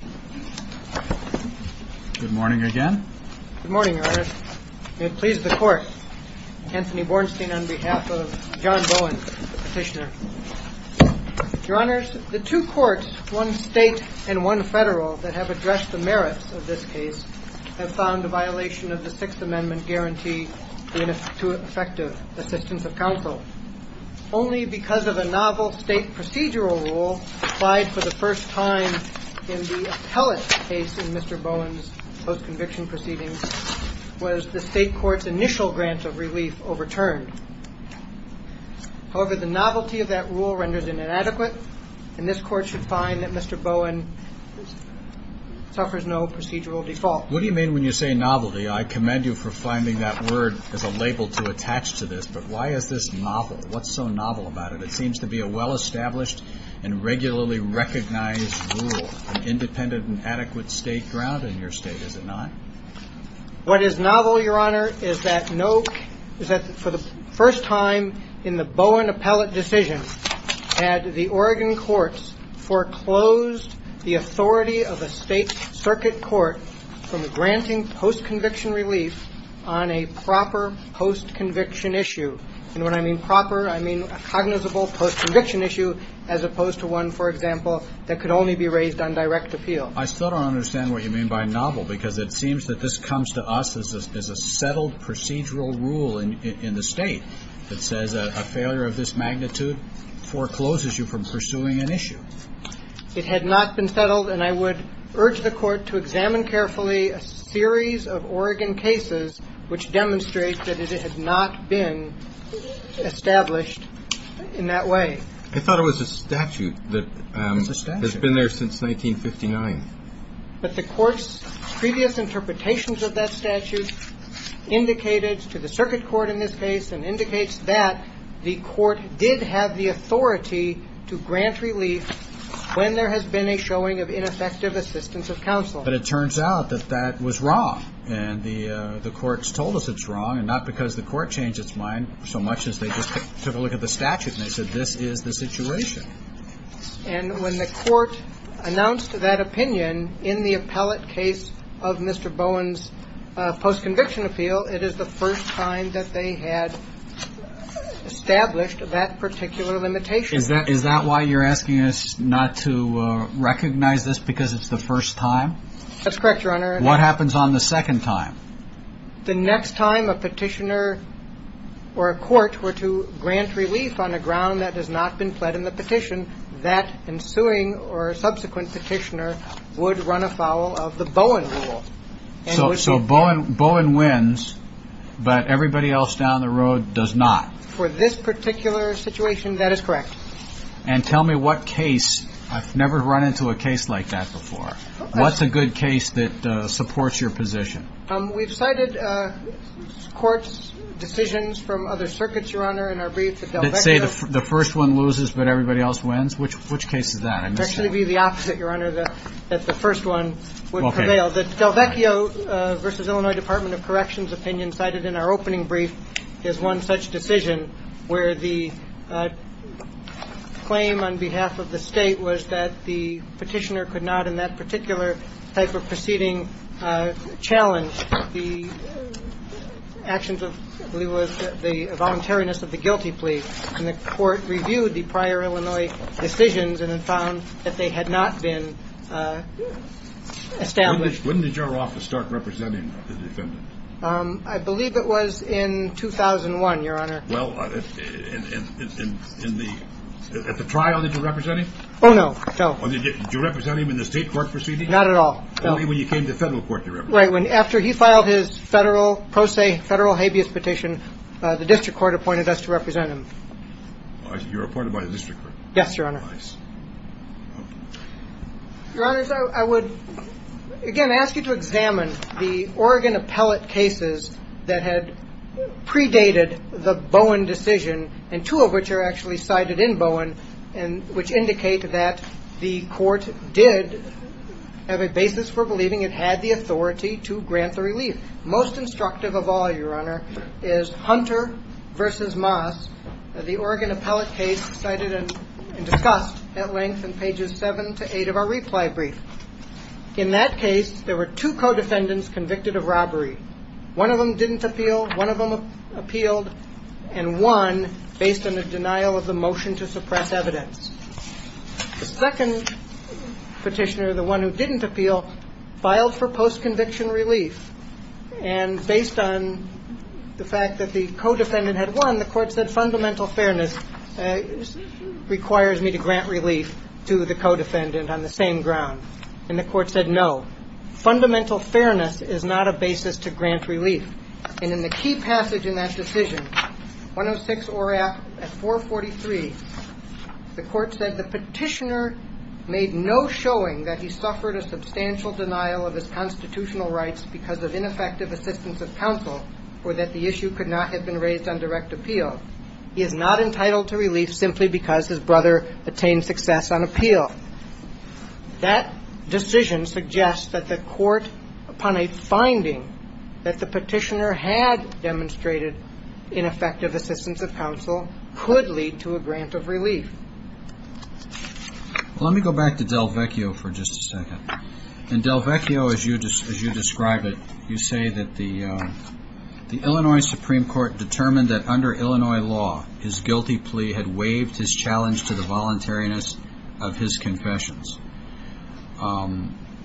The two courts, one state and one federal, that have addressed the merits of this case have found a violation of the Sixth Amendment guarantee to effective assistance of counsel. Only because of a novel state procedural rule applied for the first time in the appellate case in Mr. Bowen's post-conviction proceedings was the state court's initial grant of relief overturned. However, the novelty of that rule renders it inadequate, and this Court should find that Mr. Bowen suffers no procedural default. What do you mean when you say novelty? I commend you for finding that word as a label to attach to this. But why is this novel? What's so novel about it? It seems to be a well-established and regularly recognized rule, an independent and adequate state ground in your state, is it not? What is novel, Your Honor, is that for the first time in the Bowen appellate decision that the Oregon courts foreclosed the authority of a state circuit court from granting post-conviction relief on a proper post-conviction issue. And when I mean proper, I mean a cognizable post-conviction issue as opposed to one, for example, that could only be raised on direct appeal. Well, I still don't understand what you mean by novel, because it seems that this comes to us as a settled procedural rule in the State that says a failure of this magnitude forecloses you from pursuing an issue. It had not been settled, and I would urge the Court to examine carefully a series of Oregon cases which demonstrate that it had not been established in that way. I thought it was a statute that has been there since 1959. But the Court's previous interpretations of that statute indicated to the circuit court in this case and indicates that the Court did have the authority to grant relief when there has been a showing of ineffective assistance of counsel. But it turns out that that was wrong. And the Court's told us it's wrong, and not because the Court changed its mind so much as they just took a look at the statute and they said, this is the situation. And when the Court announced that opinion in the appellate case of Mr. Bowen's post-conviction appeal, it is the first time that they had established that particular limitation. Is that why you're asking us not to recognize this because it's the first time? That's correct, Your Honor. What happens on the second time? The next time a petitioner or a court were to grant relief on a ground that has not been pled in the petition, that ensuing or subsequent petitioner would run afoul of the Bowen rule. So Bowen wins, but everybody else down the road does not? For this particular situation, that is correct. And tell me what case – I've never run into a case like that before. What's a good case that supports your position? We've cited courts' decisions from other circuits, Your Honor, in our briefs. Let's say the first one loses, but everybody else wins? Which case is that? It would actually be the opposite, Your Honor, that the first one would prevail. The Delvecchio v. Illinois Department of Corrections opinion cited in our opening brief is one such decision where the claim on behalf of the state was that the petitioner could not, in that particular type of proceeding, challenge the actions of the voluntariness of the guilty plea. And the court reviewed the prior Illinois decisions and found that they had not been established. When did your office start representing the defendant? I believe it was in 2001, Your Honor. Well, at the trial, did you represent him? Oh, no. Did you represent him in the state court proceeding? Not at all. Only when you came to federal court, you represented him. Right, after he filed his pro se federal habeas petition, the district court appointed us to represent him. You were appointed by the district court? Yes, Your Honor. Nice. Your Honors, I would, again, ask you to examine the Oregon appellate cases that had predated the Bowen decision, and two of which are actually cited in Bowen, which indicate that the court did have a basis for believing it had the authority to grant the relief. Most instructive of all, Your Honor, is Hunter v. Moss, the Oregon appellate case cited and discussed at length in pages 7 to 8 of our reply brief. In that case, there were two co-defendants convicted of robbery. One of them didn't appeal. One of them appealed and won based on a denial of the motion to suppress evidence. The second petitioner, the one who didn't appeal, filed for post-conviction relief, and based on the fact that the co-defendant had won, the court said fundamental fairness requires me to grant relief to the co-defendant on the same ground. And the court said no. Fundamental fairness is not a basis to grant relief. And in the key passage in that decision, 106 ORAC at 443, the court said the petitioner made no showing that he suffered a substantial denial of his constitutional rights because of ineffective assistance of counsel or that the issue could not have been raised on direct appeal. He is not entitled to relief simply because his brother attained success on appeal. That decision suggests that the court, upon a finding that the petitioner had demonstrated ineffective assistance of counsel, could lead to a grant of relief. Let me go back to Del Vecchio for just a second. In Del Vecchio, as you describe it, you say that the Illinois Supreme Court determined that under Illinois law, his guilty plea had waived his challenge to the voluntariness of his confessions.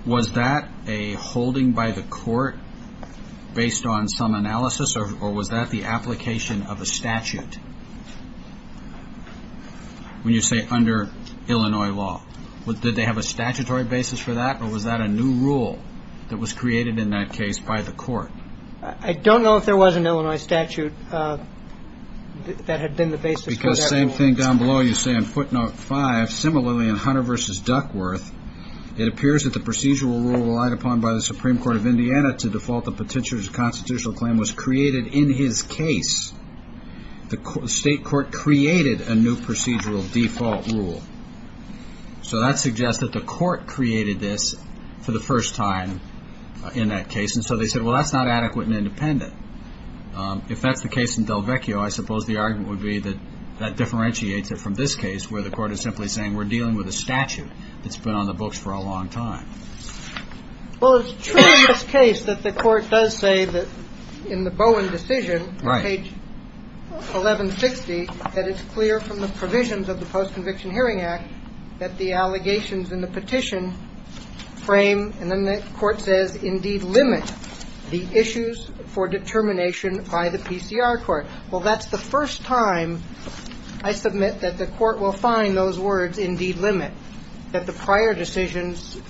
Was that a holding by the court based on some analysis, or was that the application of a statute? When you say under Illinois law, did they have a statutory basis for that, or was that a new rule that was created in that case by the court? I don't know if there was an Illinois statute that had been the basis for that rule. Because same thing down below, you say in footnote 5, similarly in Hunter v. Duckworth, it appears that the procedural rule relied upon by the Supreme Court of Indiana to default the petitioner's constitutional claim was created in his case. The state court created a new procedural default rule. So that suggests that the court created this for the first time in that case. And so they said, well, that's not adequate and independent. If that's the case in Del Vecchio, I suppose the argument would be that that differentiates it from this case, where the court is simply saying we're dealing with a statute that's been on the books for a long time. Well, it's true in this case that the court does say that in the Bowen decision, page 1160, that it's clear from the provisions of the Post-Conviction Hearing Act that the allegations in the petition frame, and then the court says, indeed limit the issues for determination by the PCR court. Well, that's the first time I submit that the court will find those words, indeed limit, that the prior decisions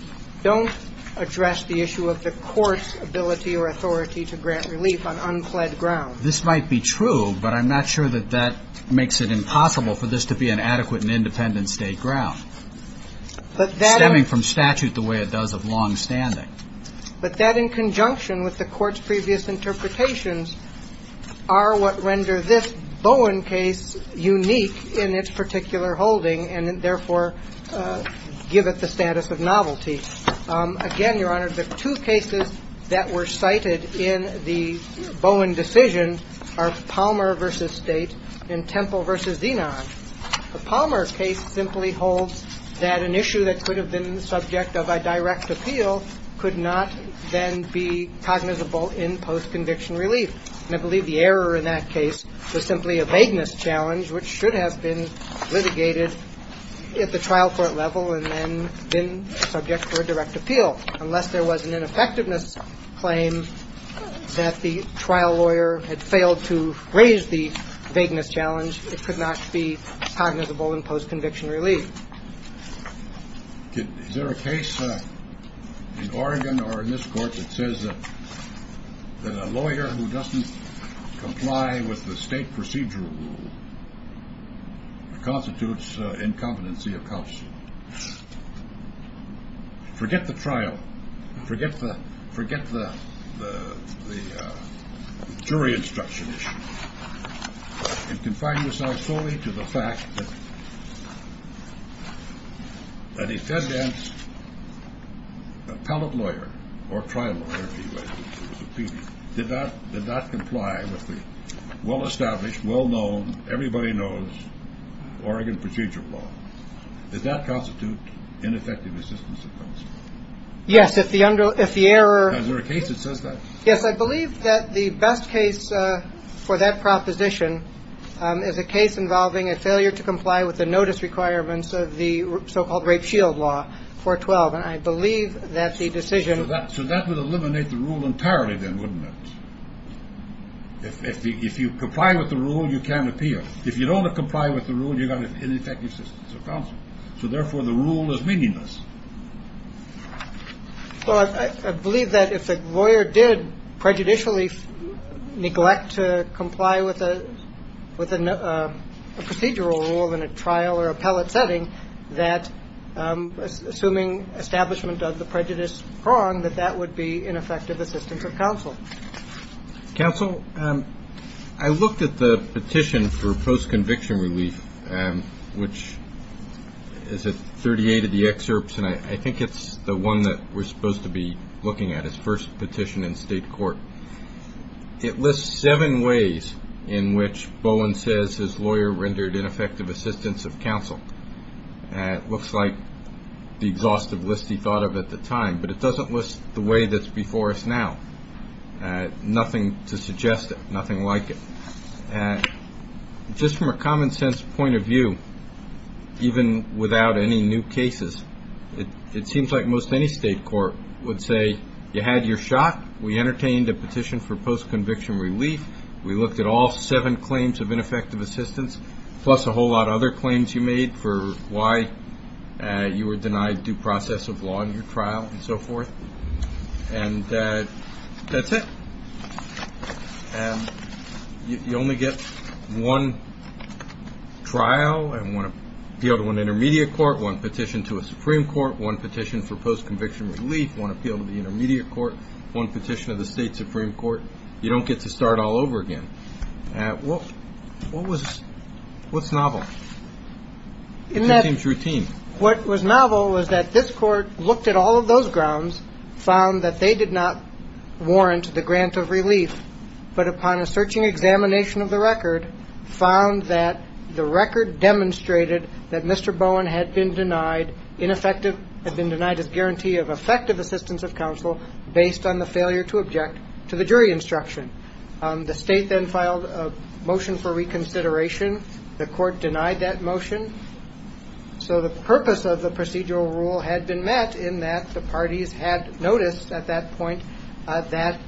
don't address the issue of the court's ability or authority to grant relief on unfled ground. This might be true, but I'm not sure that that makes it impossible for this to be an adequate and independent state ground. Stemming from statute the way it does of longstanding. But that in conjunction with the court's previous interpretations are what render this Bowen case unique in its particular holding and therefore give it the status of novelty. Again, Your Honor, the two cases that were cited in the Bowen decision are Palmer v. State and Temple v. Zenon. The Palmer case simply holds that an issue that could have been the subject of a direct appeal could not then be cognizable in post-conviction relief. And I believe the error in that case was simply a vagueness challenge, which should have been litigated at the trial court level and then been subject to a direct appeal. Unless there was an ineffectiveness claim that the trial lawyer had failed to raise the vagueness challenge, it could not be cognizable in post-conviction relief. Is there a case in Oregon or in this court that says that a lawyer who doesn't comply with the state procedural rule constitutes incompetency of counsel? Forget the trial. Forget the forget the jury instruction. It confines us solely to the fact that a defendant's appellate lawyer or trial lawyer, if he was a PD, did not comply with the well-established, well-known, everybody-knows Oregon procedural law. Does that constitute ineffective assistance of counsel? Yes, if the error… Is there a case that says that? Yes, I believe that the best case for that proposition is a case involving a failure to comply with the notice requirements of the so-called Rape Shield Law 412. And I believe that the decision… So that would eliminate the rule entirely then, wouldn't it? If you comply with the rule, you can't appeal. If you don't comply with the rule, you've got ineffective assistance of counsel. So, therefore, the rule is meaningless. Well, I believe that if a lawyer did prejudicially neglect to comply with a procedural rule in a trial or appellate setting, that assuming establishment of the prejudice prong, that that would be ineffective assistance of counsel. Counsel, I looked at the petition for post-conviction relief, which is at 38 of the excerpts. And I think it's the one that we're supposed to be looking at. It's the first petition in state court. It lists seven ways in which Bowen says his lawyer rendered ineffective assistance of counsel. It looks like the exhaustive list he thought of at the time, but it doesn't list the way that's before us now. Nothing to suggest it. Nothing like it. Just from a common-sense point of view, even without any new cases, it seems like most any state court would say you had your shot, we entertained a petition for post-conviction relief, we looked at all seven claims of ineffective assistance, plus a whole lot of other claims you made for why you were denied due process of law in your trial and so forth. And that's it. And you only get one trial and one appeal to an intermediate court, one petition to a Supreme Court, one petition for post-conviction relief, one appeal to the intermediate court, one petition to the state Supreme Court. You don't get to start all over again. What was – what's novel? It seems routine. What was novel was that this court looked at all of those grounds, found that they did not warrant the grant of relief, but upon a searching examination of the record, found that the record demonstrated that Mr. Bowen had been denied ineffective – had been denied his guarantee of effective assistance of counsel based on the failure to object to the jury instruction. The state then filed a motion for reconsideration. The court denied that motion. So the purpose of the procedural rule had been met in that the parties had noticed at that point that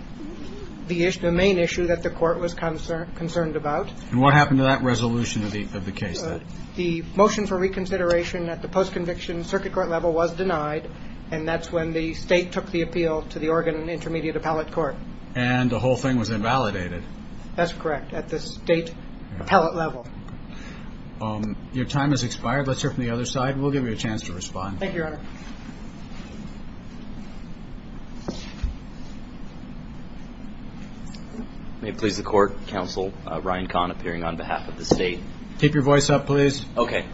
the issue – the main issue that the court was concerned about. And what happened to that resolution of the case then? The motion for reconsideration at the post-conviction circuit court level was denied, and that's when the state took the appeal to the Oregon Intermediate Appellate Court. And the whole thing was invalidated. That's correct, at the state appellate level. Your time has expired. Let's hear from the other side, and we'll give you a chance to respond. Thank you, Your Honor. May it please the Court, Counsel Ryan Kahn appearing on behalf of the state. Keep your voice up, please. Okay.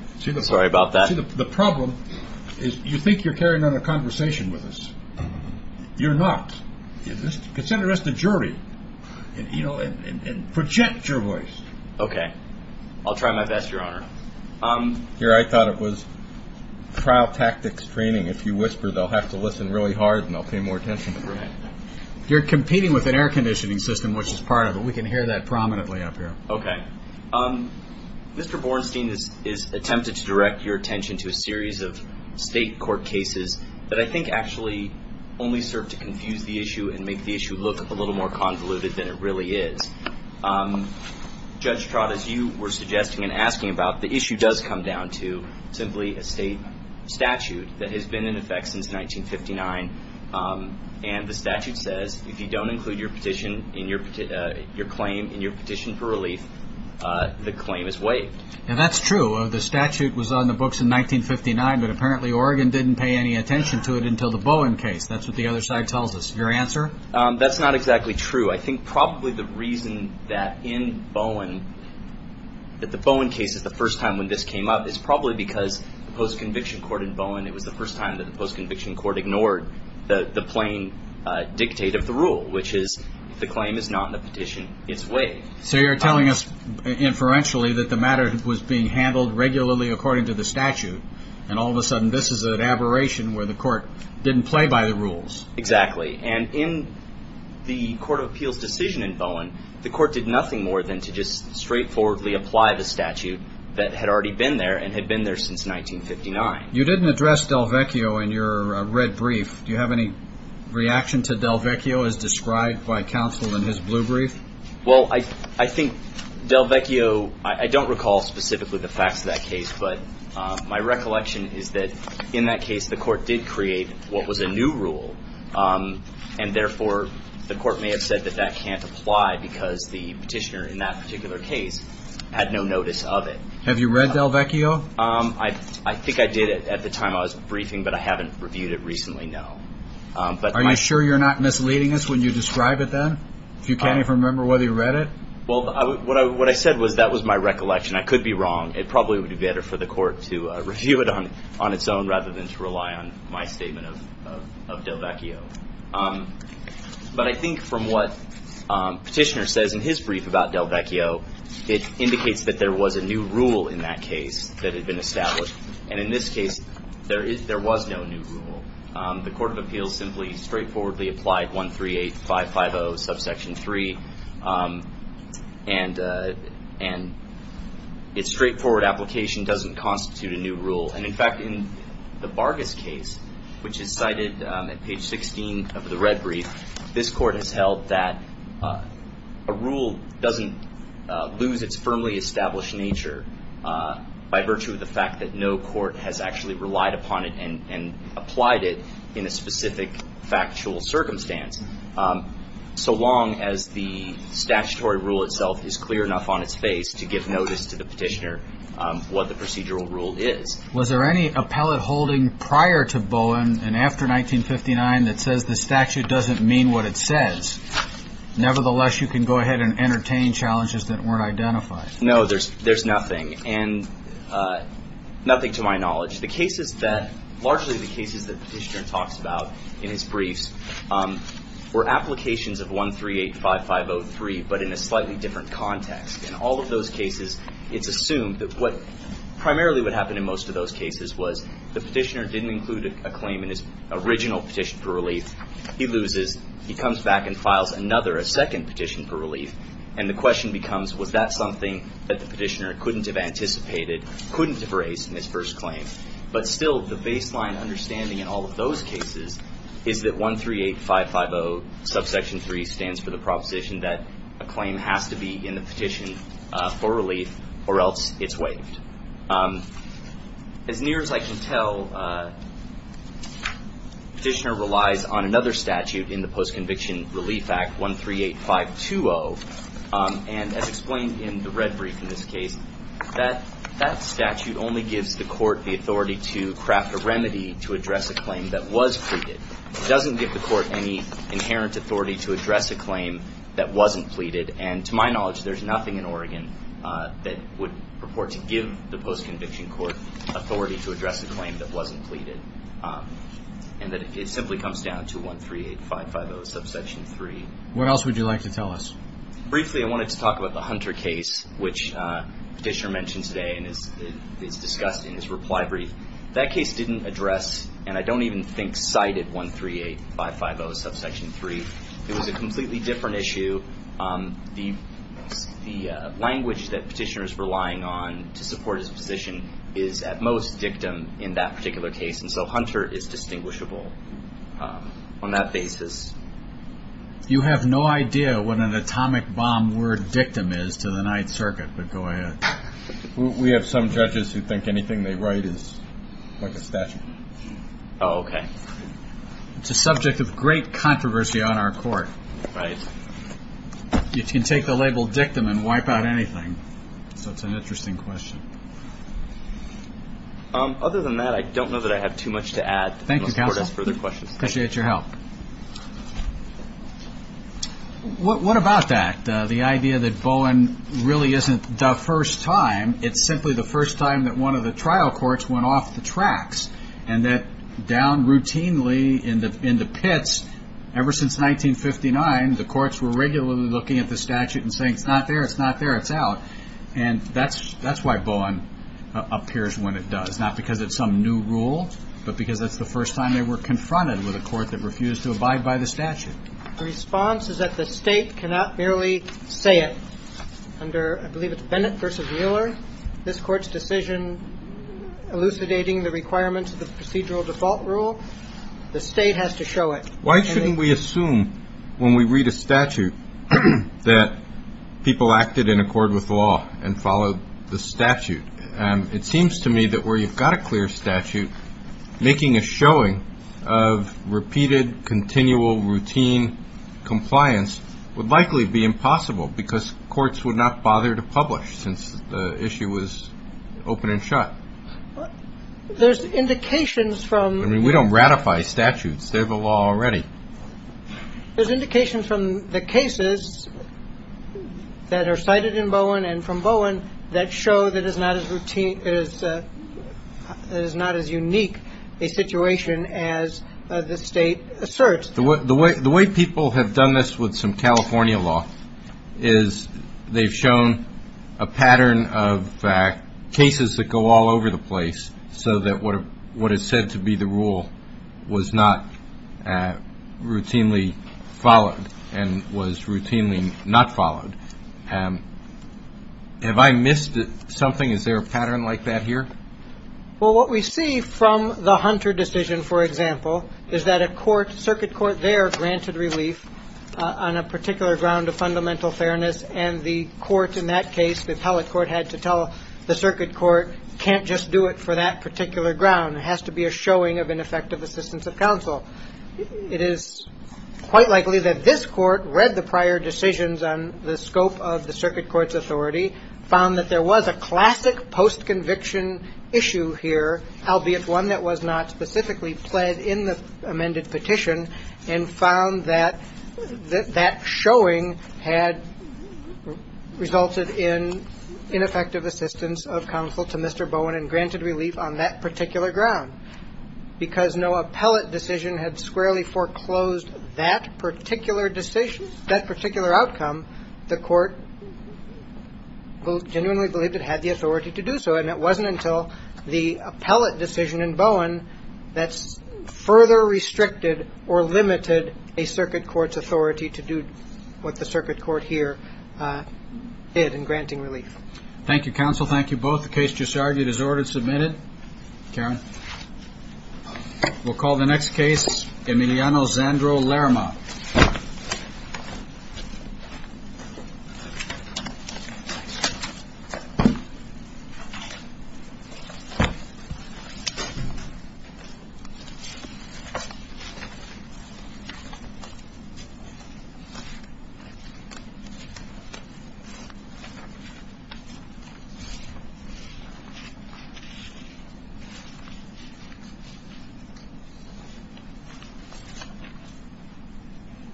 Sorry about that. See, the problem is you think you're carrying on a conversation with us. You're not. Consider us the jury. You know, and project your voice. Okay. I'll try my best, Your Honor. Here, I thought it was trial tactics training. If you whisper, they'll have to listen really hard, and they'll pay more attention. You're competing with an air conditioning system, which is part of it. We can hear that prominently up here. Okay. Mr. Bornstein has attempted to direct your attention to a series of state court cases that I think actually only serve to confuse the issue and make the issue look a little more convoluted than it really is. Judge Trott, as you were suggesting and asking about, the issue does come down to simply a state statute that has been in effect since 1959, and the statute says if you don't include your claim in your petition for relief, the claim is waived. That's true. The statute was on the books in 1959, but apparently Oregon didn't pay any attention to it until the Bowen case. That's what the other side tells us. Your answer? That's not exactly true. I think probably the reason that the Bowen case is the first time when this came up is probably because the post-conviction court in Bowen, it was the first time that the post-conviction court ignored the plain dictate of the rule, which is if the claim is not in the petition, it's waived. So you're telling us inferentially that the matter was being handled regularly according to the statute, and all of a sudden this is an aberration where the court didn't play by the rules. Exactly. And in the court of appeals decision in Bowen, the court did nothing more than to just straightforwardly apply the statute that had already been there and had been there since 1959. You didn't address Delvecchio in your red brief. Do you have any reaction to Delvecchio as described by counsel in his blue brief? Well, I think Delvecchio, I don't recall specifically the facts of that case, but my recollection is that in that case the court did create what was a new rule and therefore the court may have said that that can't apply because the petitioner in that particular case had no notice of it. Have you read Delvecchio? I think I did at the time I was briefing, but I haven't reviewed it recently, no. Are you sure you're not misleading us when you describe it then? You can't even remember whether you read it? Well, what I said was that was my recollection. I could be wrong. It probably would be better for the court to review it on its own rather than to rely on my statement of Delvecchio. But I think from what the petitioner says in his brief about Delvecchio, it indicates that there was a new rule in that case that had been established, and in this case there was no new rule. The court of appeals simply straightforwardly applied 138550 subsection 3, and its straightforward application doesn't constitute a new rule. And, in fact, in the Vargas case, which is cited at page 16 of the red brief, this court has held that a rule doesn't lose its firmly established nature by virtue of the fact that no court has actually relied upon it and applied it in a specific factual circumstance, so long as the statutory rule itself is clear enough on its face to give notice to the petitioner what the procedural rule is. Was there any appellate holding prior to Bowen and after 1959 that says the statute doesn't mean what it says? Nevertheless, you can go ahead and entertain challenges that weren't identified. No, there's nothing, and nothing to my knowledge. The cases that, largely the cases that the petitioner talks about in his briefs, were applications of 1385503 but in a slightly different context, in all of those cases it's assumed that what primarily would happen in most of those cases was the petitioner didn't include a claim in his original petition for relief. He loses. He comes back and files another, a second petition for relief, and the question becomes was that something that the petitioner couldn't have anticipated, couldn't have raised in his first claim. But still, the baseline understanding in all of those cases is that 138550 subsection 3 stands for the proposition that a claim has to be in the petition for relief or else it's waived. As near as I can tell, the petitioner relies on another statute in the Post-Conviction Relief Act, 138520, and as explained in the red brief in this case, that statute only gives the court the authority to craft a remedy to address a claim that was pleaded. It doesn't give the court any inherent authority to address a claim that wasn't pleaded, and to my knowledge there's nothing in Oregon that would purport to give the post-conviction court authority to address a claim that wasn't pleaded, and that it simply comes down to 138550 subsection 3. What else would you like to tell us? Briefly, I wanted to talk about the Hunter case, which the petitioner mentioned today and is discussed in his reply brief. That case didn't address, and I don't even think cited, 138550 subsection 3. It was a completely different issue. The language that the petitioner is relying on to support his position is at most dictum in that particular case, and so Hunter is distinguishable on that basis. You have no idea what an atomic bomb word dictum is to the Ninth Circuit, but go ahead. We have some judges who think anything they write is like a statute. Oh, okay. It's a subject of great controversy on our court. Right. You can take the label dictum and wipe out anything, so it's an interesting question. Other than that, I don't know that I have too much to add. Thank you, counsel. I appreciate your help. What about that? The idea that Bowen really isn't the first time, it's simply the first time that one of the trial courts went off the tracks and that down routinely in the pits ever since 1959, the courts were regularly looking at the statute and saying it's not there, it's not there, it's out. And that's why Bowen appears when it does, not because it's some new rule, but because that's the first time they were confronted with a court that refused to abide by the statute. The response is that the State cannot merely say it. Under, I believe it's Bennett v. Mueller, this Court's decision elucidating the requirements of the procedural default rule, the State has to show it. Why shouldn't we assume when we read a statute that people acted in accord with law and followed the statute? It seems to me that where you've got a clear statute, making a showing of repeated, continual, routine compliance would likely be impossible because courts would not bother to publish since the issue was open and shut. There's indications from- I mean, we don't ratify statutes. They have a law already. There's indications from the cases that are cited in Bowen and from Bowen that show that it is not as unique a situation as the State asserts. The way people have done this with some California law is they've shown a pattern of cases that go all over the place so that what is said to be the rule was not routinely followed and was routinely not followed. Have I missed something? Is there a pattern like that here? Well, what we see from the Hunter decision, for example, is that a circuit court there granted relief on a particular ground of fundamental fairness, and the court in that case, the appellate court, had to tell the circuit court, can't just do it for that particular ground. It has to be a showing of ineffective assistance of counsel. It is quite likely that this Court read the prior decisions on the scope of the circuit court's authority, found that there was a classic post-conviction issue here, albeit one that was not specifically pled in the amended petition, and found that that showing had resulted in ineffective assistance of counsel to Mr. Bowen and granted relief on that particular ground because no appellate decision had squarely foreclosed that particular decision, that particular outcome, the court genuinely believed it had the authority to do so, and it wasn't until the appellate decision in Bowen that further restricted or limited a circuit court's authority to do what the circuit court here did in granting relief. Thank you, counsel. Thank you both. The case just argued is ordered and submitted. Karen. We'll call the next case, Emiliano Zandro Lerma. Thank you.